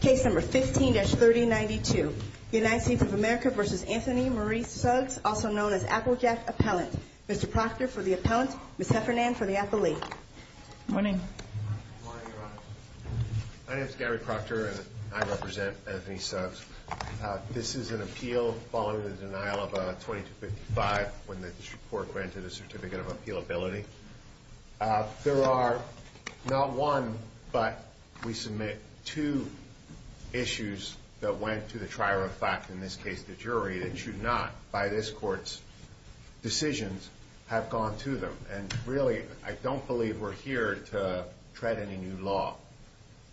Case number 15-3092. United States of America v. Anthony Marie Suggs, also known as Applejack Appellant. Mr. Proctor for the appellant, Ms. Heffernan for the appellee. Good morning. Good morning, Your Honor. My name is Gary Proctor and I represent Anthony Suggs. This is an appeal following the denial of 2255 when the district court granted a certificate of appealability. There are not one, but we submit two issues that went to the trier of fact, in this case the jury, that should not by this court's decisions have gone to them. And really, I don't believe we're here to tread any new law.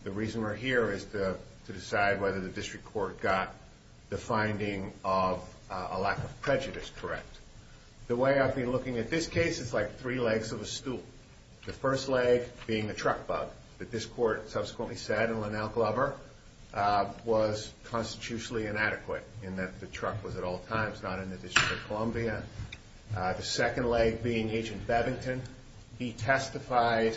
The reason we're here is to decide whether the district court got the finding of a lack of prejudice correct. The way I've been looking at this case, it's like three legs of a stool. The first leg being the truck bug that this court subsequently said in Lanell Glover was constitutionally inadequate in that the truck was at all times not in the District of Columbia. The second leg being Agent Bevington, he testified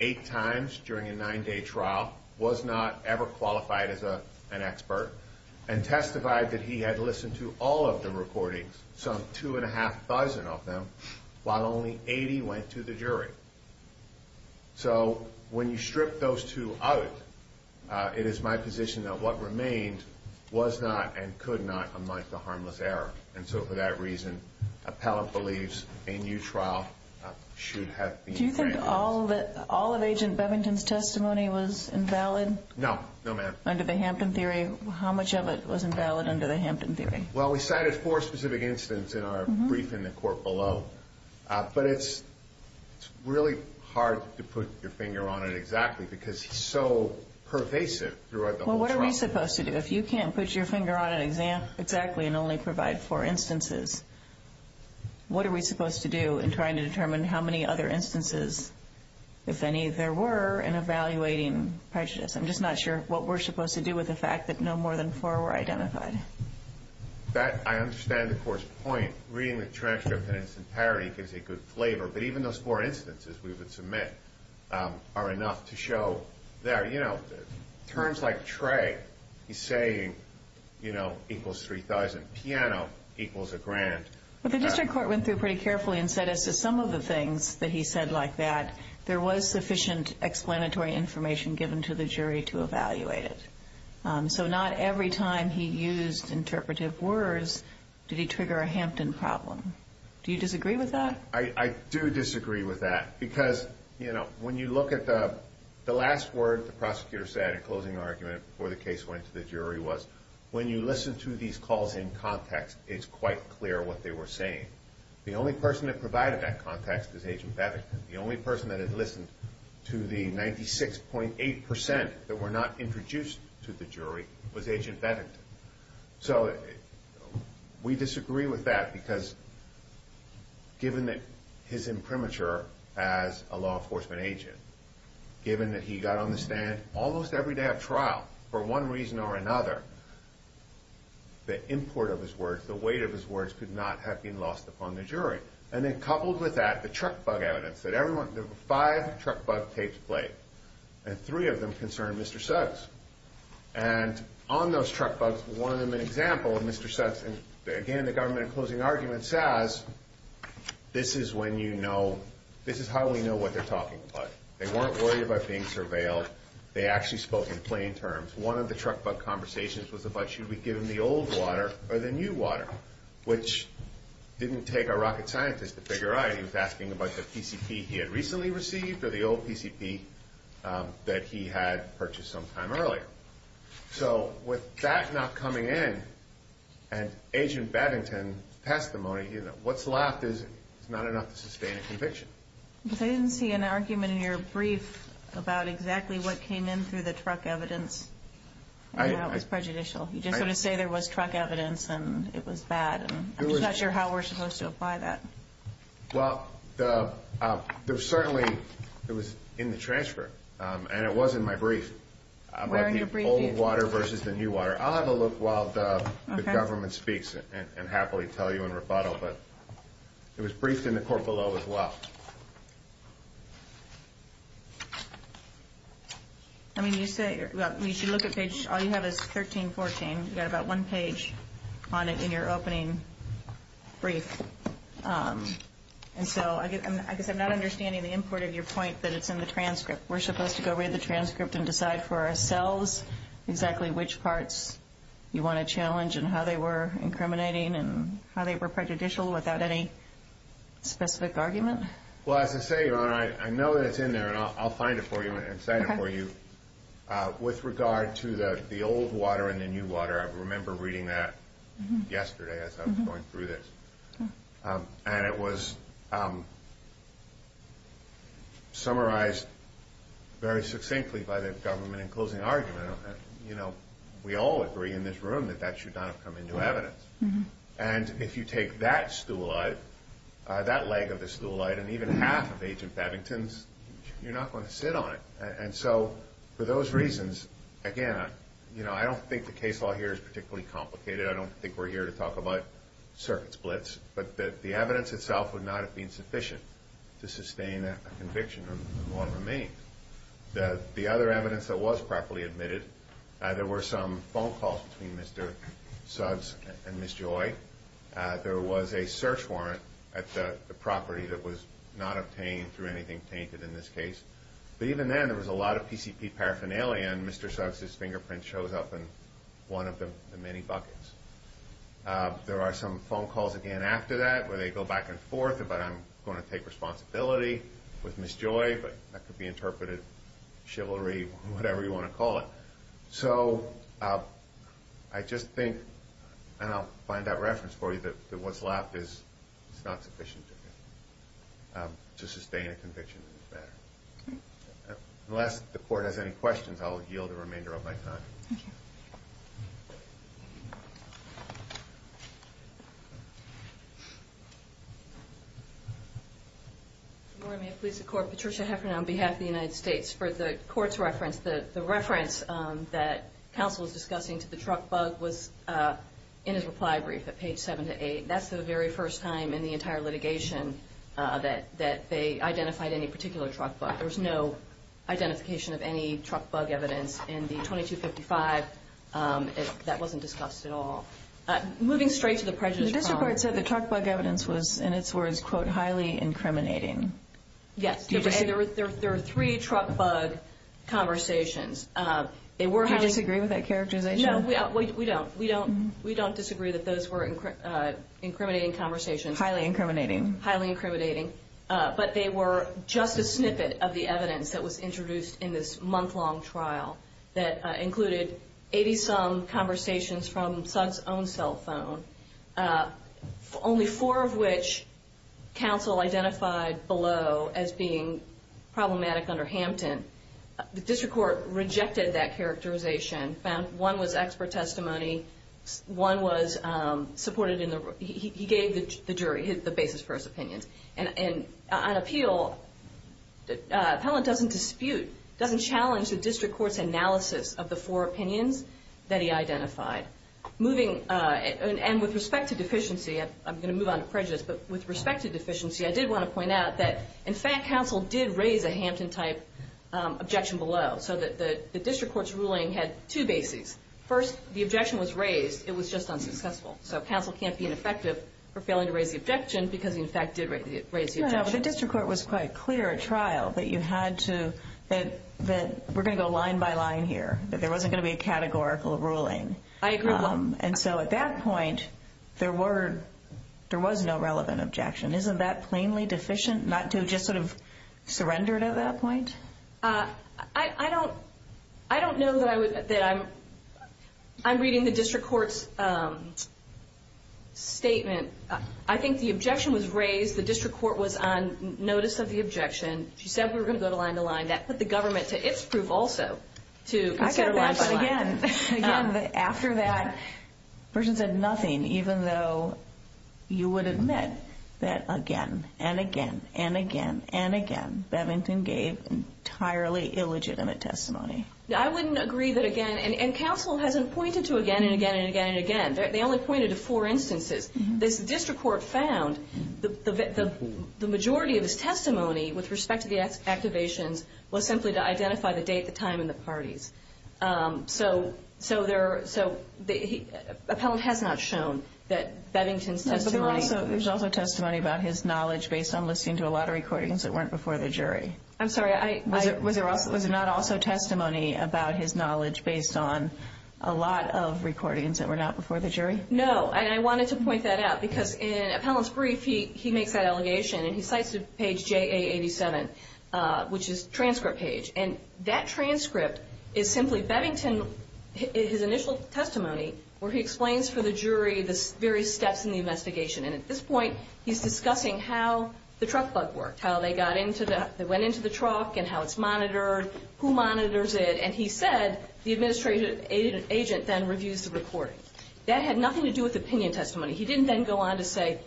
eight times during a nine day trial, was not ever qualified as an expert, and testified that he had listened to all of the recordings, some two and a half thousand of them, while only 80 went to the jury. So, when you strip those two out, it is my position that what remained was not, and could not, unlike the harmless error. And so for that reason, appellant believes a new trial should have been granted. Do you think all of Agent Bevington's testimony was invalid? No, no ma'am. Under the Hampton Theory, how much of it was invalid under the Hampton Theory? Well, we cited four specific incidents in our brief in the court below, but it's really hard to put your finger on it exactly because it's so pervasive throughout the whole trial. Well, what are we supposed to do? If you can't put your finger on an exam exactly and only provide four instances, what are we supposed to do in trying to determine how many other instances, if any, there were in evaluating prejudice? I'm just not sure what we're supposed to do with the fact that no more than four were identified. That, I understand the court's point. Reading the transcript in its entirety gives a good flavor, but even those four instances we would submit are enough to show there, you know, terms like Trey, he's saying, you know, equals 3,000, piano equals a grand. But the district court went through pretty carefully and said as to some of the things that he said like that, there was sufficient explanatory information given to the jury to evaluate it. So not every time he used interpretive words did he trigger a Hampton problem. Do you disagree with that? No, I do disagree with that because, you know, when you look at the last word the prosecutor said in closing argument before the case went to the jury was, when you listen to these calls in context, it's quite clear what they were saying. The only person that provided that context was Agent Bennington. The only person that had listened to the 96.8% that were not introduced to the jury was Agent Bennington. So we disagree with that because given that his imprimatur as a law enforcement agent, given that he got on the stand almost every day of trial for one reason or another, the import of his words, the weight of his words could not have been lost upon the jury. And then coupled with that, the truck bug evidence. There were five truck bug tapes played and three of them concerned Mr. Suggs. And on those truck bugs, one of them an example of Mr. Suggs. And again, the government in closing argument says, this is when you know, this is how we know what they're talking about. They weren't worried about being surveilled. They actually spoke in plain terms. One of the truck bug conversations was about should we give him the old water or the new water, which didn't take a rocket scientist to figure out. He was asking about the PCP he had recently received or the old PCP that he had purchased sometime earlier. So with that not coming in and Agent Bennington testimony, what's left is not enough to sustain a conviction. I didn't see an argument in your brief about exactly what came in through the truck evidence. I know it was prejudicial. You just sort of say there was truck evidence and it was bad. I'm just not sure how we're supposed to apply that. Well, there was certainly it was in the transfer and it was in my brief about the old water versus the new water. I'll have a look while the government speaks and happily tell you in rebuttal. But it was briefed in the court below as well. I mean, you say you should look at page. All you have is 1314. You got about one page on it in your opening brief. And so I guess I'm not understanding the import of your point that it's in the transcript. We're supposed to go read the transcript and decide for ourselves exactly which parts you want to challenge and how they were incriminating and how they were prejudicial without any specific argument. Well, as I say, I know that it's in there and I'll find it for you and say it for you. With regard to the old water and the new water, I remember reading that yesterday as I was going through this. And it was summarized very succinctly by the government in closing argument. You know, we all agree in this room that that should not have come into evidence. And if you take that stool light, that leg of the stool light and even half of Agent Paddington's, you're not going to sit on it. And so for those reasons, again, you know, I don't think the case law here is particularly complicated. I don't think we're here to talk about circuit splits, but that the evidence itself would not have been sufficient to sustain a conviction. The other evidence that was properly admitted, there were some phone calls between Mr. Suggs and Ms. Joy. There was a search warrant at the property that was not obtained through anything tainted in this case. But even then, there was a lot of PCP paraphernalia and Mr. Suggs' fingerprint shows up in one of the many buckets. There are some phone calls again after that where they go back and forth about I'm going to take responsibility with Ms. Joy, but that could be interpreted chivalry, whatever you want to call it. So I just think, and I'll find that reference for you, that what's left is not sufficient to sustain a conviction in this matter. Unless the court has any questions, I'll yield the remainder of my time. Thank you. Patricia Heffernan on behalf of the United States. For the court's reference, the reference that counsel is discussing to the truck bug was in his reply brief at page 7 to 8. That's the very first time in the entire litigation that they identified any particular truck bug. There was no identification of any truck bug evidence in the 2255. That wasn't discussed at all. Moving straight to the prejudice problem. The district court said the truck bug evidence was, in its words, quote, highly incriminating. Yes. There were three truck bug conversations. Do you disagree with that characterization? No, we don't. We don't disagree that those were incriminating conversations. Highly incriminating. Highly incriminating. But they were just a snippet of the evidence that was introduced in this month-long trial that included 80-some conversations from Sugg's own cell phone, only four of which counsel identified below as being problematic under Hampton. The district court rejected that characterization. One was expert testimony. One was supported in the room. He gave the jury the basis for his opinions. And on appeal, Appellant doesn't dispute, doesn't challenge the district court's analysis of the four opinions that he identified. And with respect to deficiency, I'm going to move on to prejudice. But with respect to deficiency, I did want to point out that, in fact, counsel did raise a Hampton-type objection below. So the district court's ruling had two bases. First, the objection was raised. It was just unsuccessful. So counsel can't be ineffective for failing to raise the objection because he, in fact, did raise the objection. But the district court was quite clear at trial that you had to, that we're going to go line by line here, that there wasn't going to be a categorical ruling. I agree with that. And so at that point, there were, there was no relevant objection. Isn't that plainly deficient not to have just sort of surrendered at that point? I don't, I don't know that I would, that I'm, I'm reading the district court's statement. I think the objection was raised. The district court was on notice of the objection. She said we were going to go line by line. That put the government to its proof also to consider line by line. But again, again, after that, the person said nothing, even though you would admit that again and again and again and again, Bevington gave entirely illegitimate testimony. I wouldn't agree that again, and counsel hasn't pointed to again and again and again and again. They only pointed to four instances. The district court found the majority of his testimony with respect to the activations was simply to identify the date, the time, and the parties. So, so there, so he, Appellant has not shown that Bevington's testimony. There's also testimony about his knowledge based on listening to a lot of recordings that weren't before the jury. I'm sorry, I, I. Was there also, was there not also testimony about his knowledge based on a lot of recordings that were not before the jury? No, and I wanted to point that out because in Appellant's brief, he, he makes that allegation, and he cites page JA87, which is transcript page, and that transcript is simply Bevington, his initial testimony where he explains for the jury the various steps in the investigation. And at this point, he's discussing how the truck bug worked, how they got into the, they went into the truck and how it's monitored, who monitors it, and he said the administrative agent then reviews the recording. That had nothing to do with opinion testimony. He didn't then go on to say,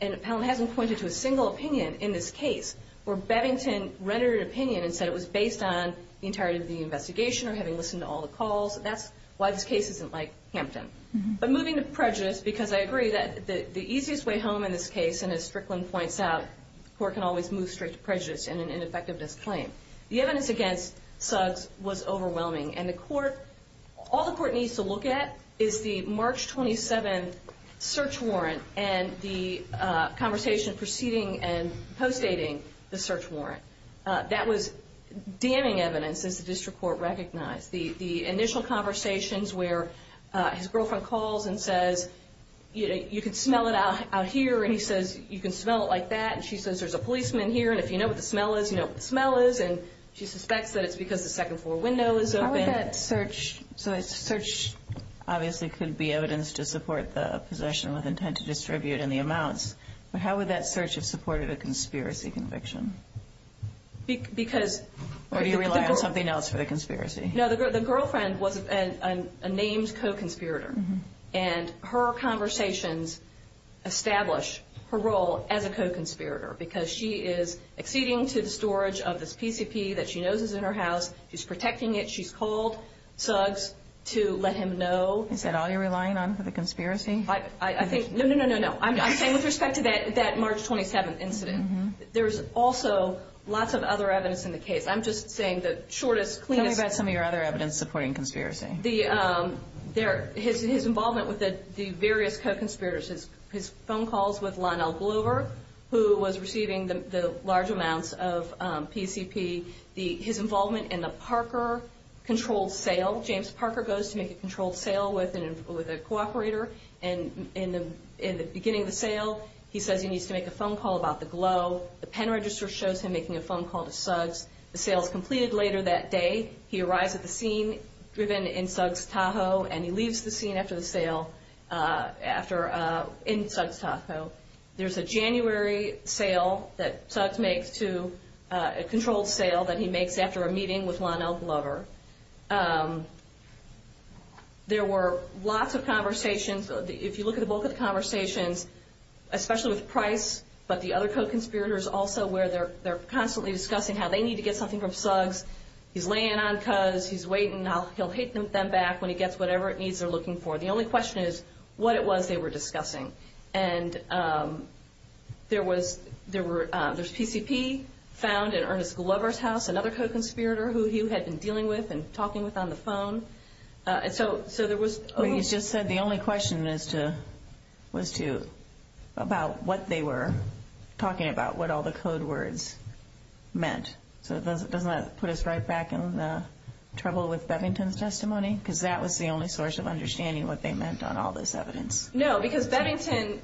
and Appellant hasn't pointed to a single opinion in this case where Bevington rendered an opinion and said it was based on the entirety of the investigation or having listened to all the calls. That's why this case isn't like Hampton. But moving to prejudice, because I agree that the, the easiest way home in this case, and as Strickland points out, the court can always move straight to prejudice and an ineffectiveness claim. The evidence against Suggs was overwhelming. And the court, all the court needs to look at is the March 27th search warrant and the conversation preceding and postdating the search warrant. That was damning evidence since the district court recognized. The initial conversations where his girlfriend calls and says, you know, you can smell it out here, and he says you can smell it like that, and she says there's a policeman here, and if you know what the smell is, you know what the smell is, and she suspects that it's because the second floor window is open. How would that search, so a search obviously could be evidence to support the possession with intent to distribute and the amounts, but how would that search have supported a conspiracy conviction? Because. Or do you rely on something else for the conspiracy? No, the girlfriend was a named co-conspirator, and her conversations establish her role as a co-conspirator because she is acceding to the storage of this PCP that she knows is in her house. She's protecting it. She's called Suggs to let him know. Is that all you're relying on for the conspiracy? I think. No, no, no, no, no. I'm saying with respect to that March 27th incident, there's also lots of other evidence in the case. I'm just saying the shortest, cleanest. Tell me about some of your other evidence supporting conspiracy. His involvement with the various co-conspirators, his phone calls with Lionel Glover, who was receiving the large amounts of PCP, his involvement in the Parker controlled sale. James Parker goes to make a controlled sale with a co-operator. In the beginning of the sale, he says he needs to make a phone call about the Glo. The pen register shows him making a phone call to Suggs. The sale is completed later that day. He arrives at the scene driven in Suggs Tahoe, and he leaves the scene after the sale in Suggs Tahoe. There's a January sale that Suggs makes to a controlled sale that he makes after a meeting with Lionel Glover. There were lots of conversations. If you look at the bulk of the conversations, especially with Price, but the other co-conspirators also, where they're constantly discussing how they need to get something from Suggs. He's laying on Cuz. He's waiting. He'll hit them back when he gets whatever it needs they're looking for. The only question is what it was they were discussing. There's PCP found in Ernest Glover's house, another co-conspirator who he had been dealing with and talking with on the phone. You just said the only question was about what they were talking about, what all the code words meant. Doesn't that put us right back in the trouble with Bevington's testimony? Because that was the only source of understanding what they meant on all this evidence. No, because Bevington's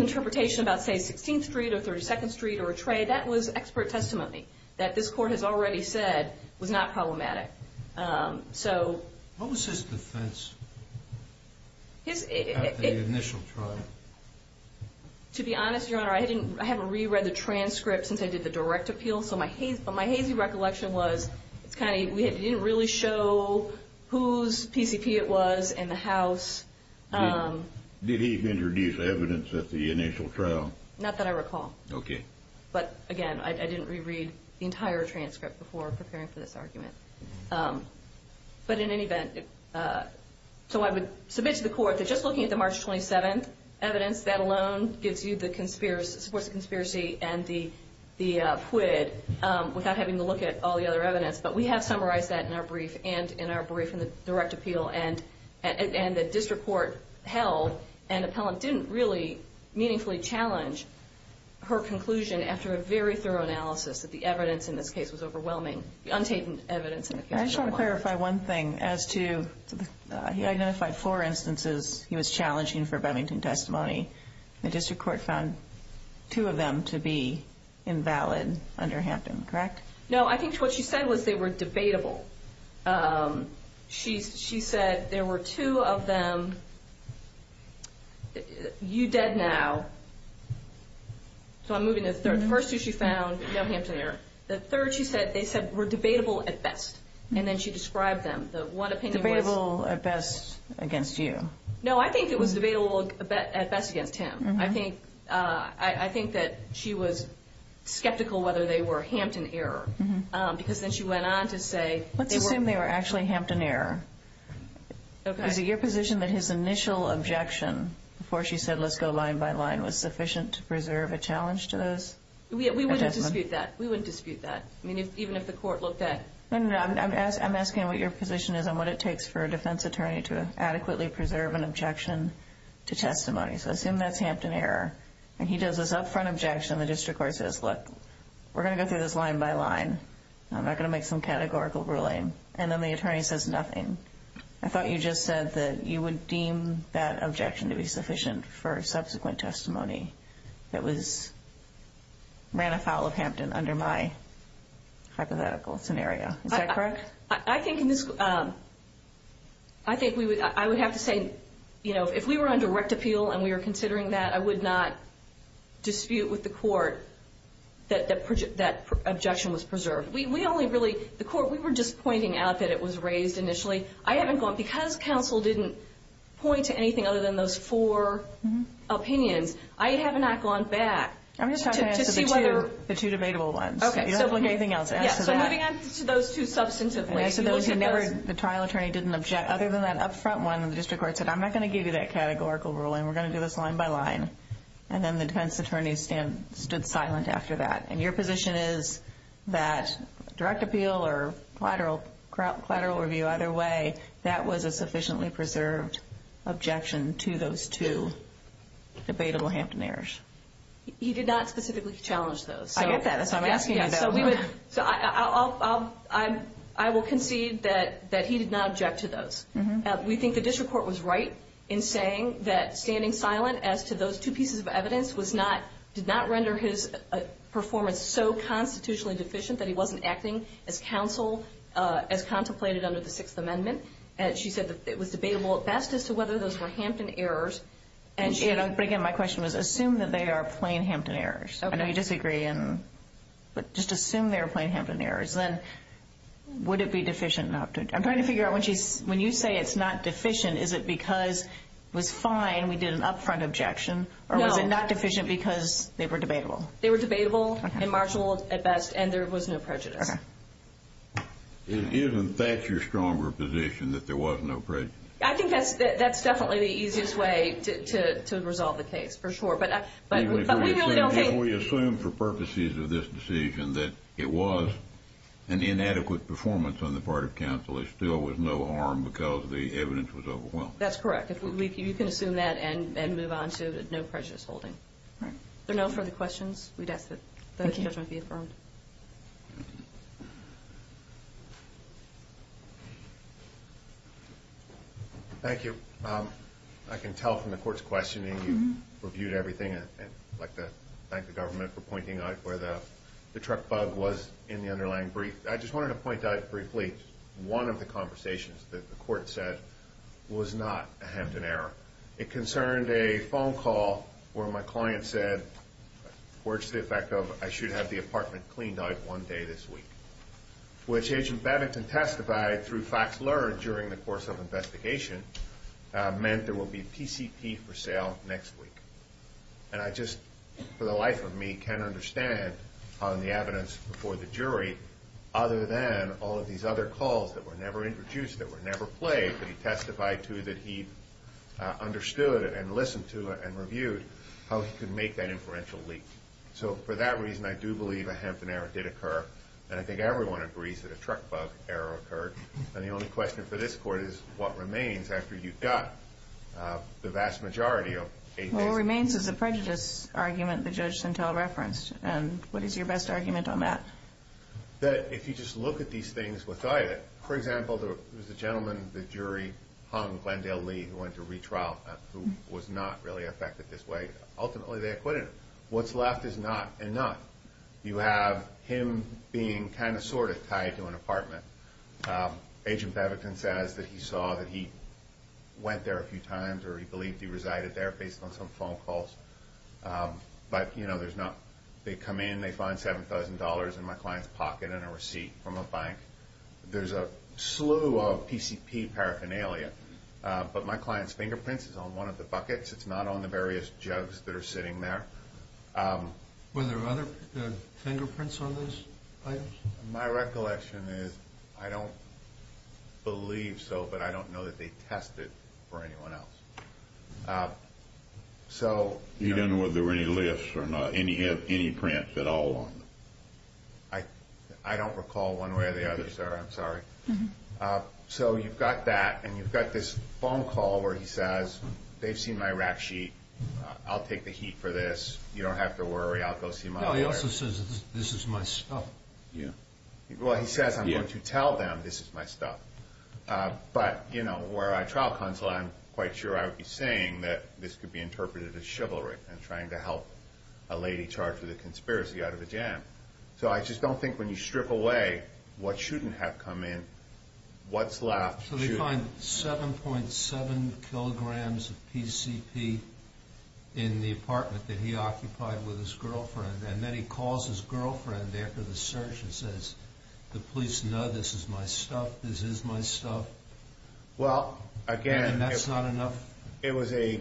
interpretation about, say, 16th Street or 32nd Street or a trade, that was expert testimony that this Court has already said was not problematic. What was his defense at the initial trial? To be honest, Your Honor, I haven't reread the transcript since I did the direct appeal, so my hazy recollection was it didn't really show whose PCP it was in the house. Did he introduce evidence at the initial trial? Not that I recall. Okay. But, again, I didn't reread the entire transcript before preparing for this argument. But in any event, so I would submit to the Court that just looking at the March 27th evidence, that alone supports the conspiracy and the PUID without having to look at all the other evidence. But we have summarized that in our brief and in our brief in the direct appeal. And the district court held an appellant didn't really meaningfully challenge her conclusion after a very thorough analysis that the evidence in this case was overwhelming, I just want to clarify one thing as to he identified four instances he was challenging for Bevington testimony. The district court found two of them to be invalid under Hampton, correct? No, I think what she said was they were debatable. She said there were two of them, you dead now. So I'm moving to the third. The first two she found, no Hampton error. The third she said they said were debatable at best. And then she described them. The one opinion was. Debatable at best against you. No, I think it was debatable at best against him. I think that she was skeptical whether they were Hampton error because then she went on to say. Let's assume they were actually Hampton error. Okay. Is it your position that his initial objection before she said let's go line by line was sufficient to preserve a challenge to those? We wouldn't dispute that. We wouldn't dispute that. I mean, even if the court looked at. No, no, no. I'm asking what your position is on what it takes for a defense attorney to adequately preserve an objection to testimony. So assume that's Hampton error. And he does this upfront objection. The district court says, look, we're going to go through this line by line. I'm not going to make some categorical ruling. And then the attorney says nothing. I thought you just said that you would deem that objection to be sufficient for subsequent testimony that was ran afoul of Hampton under my hypothetical scenario. Is that correct? I think I would have to say, you know, if we were on direct appeal and we were considering that, I would not dispute with the court that that objection was preserved. We only really the court. We were just pointing out that it was raised initially. I haven't gone because counsel didn't point to anything other than those four opinions. I have not gone back. I'm just trying to see whether the two debatable ones look anything else. So moving on to those two substantive. So those who never the trial attorney didn't object. Other than that, up front one of the district court said, I'm not going to give you that categorical ruling. We're going to do this line by line. And then the defense attorney stand stood silent after that. And your position is that direct appeal or collateral collateral review either way. That was a sufficiently preserved objection to those two debatable Hampton errors. He did not specifically challenge those. I get that. So I'm asking. So we would. So I will concede that that he did not object to those. We think the district court was right in saying that standing silent as to those two pieces of evidence was not did not render his performance. So constitutionally deficient that he wasn't acting as counsel as contemplated under the Sixth Amendment. And she said that it was debatable at best as to whether those were Hampton errors. And, you know, again, my question was assume that they are plain Hampton errors. I know you disagree. And just assume they're plain Hampton errors. Then would it be deficient? I'm trying to figure out when she's when you say it's not deficient. Is it because it was fine? We did an upfront objection. Or was it not deficient because they were debatable? They were debatable and marginal at best. And there was no prejudice. Isn't that your stronger position that there was no. I think that's that's definitely the easiest way to resolve the case for sure. We assume for purposes of this decision that it was an inadequate performance on the part of counsel. It still was no harm because the evidence was overwhelmed. That's correct. You can assume that and move on to no prejudice holding. There are no further questions. We'd ask that the judgment be affirmed. Thank you. I can tell from the court's questioning you reviewed everything. And I'd like to thank the government for pointing out where the truck bug was in the underlying brief. I just wanted to point out briefly one of the conversations that the court said was not a Hampton error. It concerned a phone call where my client said, where's the effect of I should have the apartment cleaned out one day this week. Which agent Bennington testified through facts learned during the course of investigation meant there will be PCP for sale next week. And I just for the life of me can understand on the evidence before the jury. Other than all of these other calls that were never introduced that were never played. But he testified to that. He understood it and listened to it and reviewed how he could make that inferential leak. So for that reason, I do believe a Hampton error did occur. And I think everyone agrees that a truck bug error occurred. And the only question for this court is what remains after you've got the vast majority of. What remains is a prejudice argument. The judge sent all referenced. And what is your best argument on that? That if you just look at these things with it, for example, there was a gentleman. The jury hung Glendale Lee, who went to retrial, who was not really affected this way. Ultimately, they acquitted him. What's left is not enough. You have him being kind of sort of tied to an apartment. Agent Bevington says that he saw that he went there a few times. Or he believed he resided there based on some phone calls. But, you know, there's not. They come in. They find $7,000 in my client's pocket and a receipt from a bank. There's a slew of PCP paraphernalia. But my client's fingerprints is on one of the buckets. It's not on the various jugs that are sitting there. Were there other fingerprints on those items? My recollection is I don't believe so, but I don't know that they tested for anyone else. So. You don't know whether there were any lifts or not, any prints at all on them? I don't recall one way or the other, sir. I'm sorry. So you've got that. And you've got this phone call where he says, they've seen my rack sheet. I'll take the heat for this. You don't have to worry. I'll go see my lawyer. No, he also says this is my stuff. Yeah. Well, he says I'm going to tell them this is my stuff. But, you know, where I trial counsel, I'm quite sure I would be saying that this could be interpreted as chivalry and trying to help a lady charged with a conspiracy out of a jam. So I just don't think when you strip away what shouldn't have come in, what's left. So they find 7.7 kilograms of PCP in the apartment that he occupied with his girlfriend. And then he calls his girlfriend after the search and says, the police know this is my stuff. This is my stuff. Well, again. And that's not enough? It was a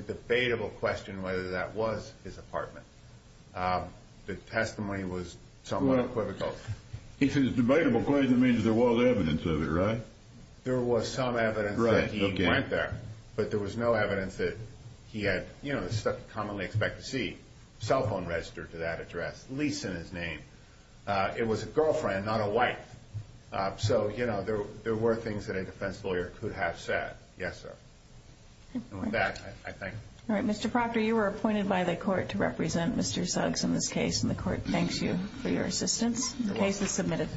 debatable question whether that was his apartment. The testimony was somewhat equivocal. If it's a debatable claim, it means there was evidence of it, right? There was some evidence that he went there. But there was no evidence that he had, you know, the stuff you commonly expect to see. Cell phone registered to that address. Lease in his name. It was a girlfriend, not a wife. So, you know, there were things that a defense lawyer could have said. Yes, sir. That, I think. All right. Mr. Proctor, you were appointed by the court to represent Mr. Suggs in this case. And the court thanks you for your assistance. The case is submitted.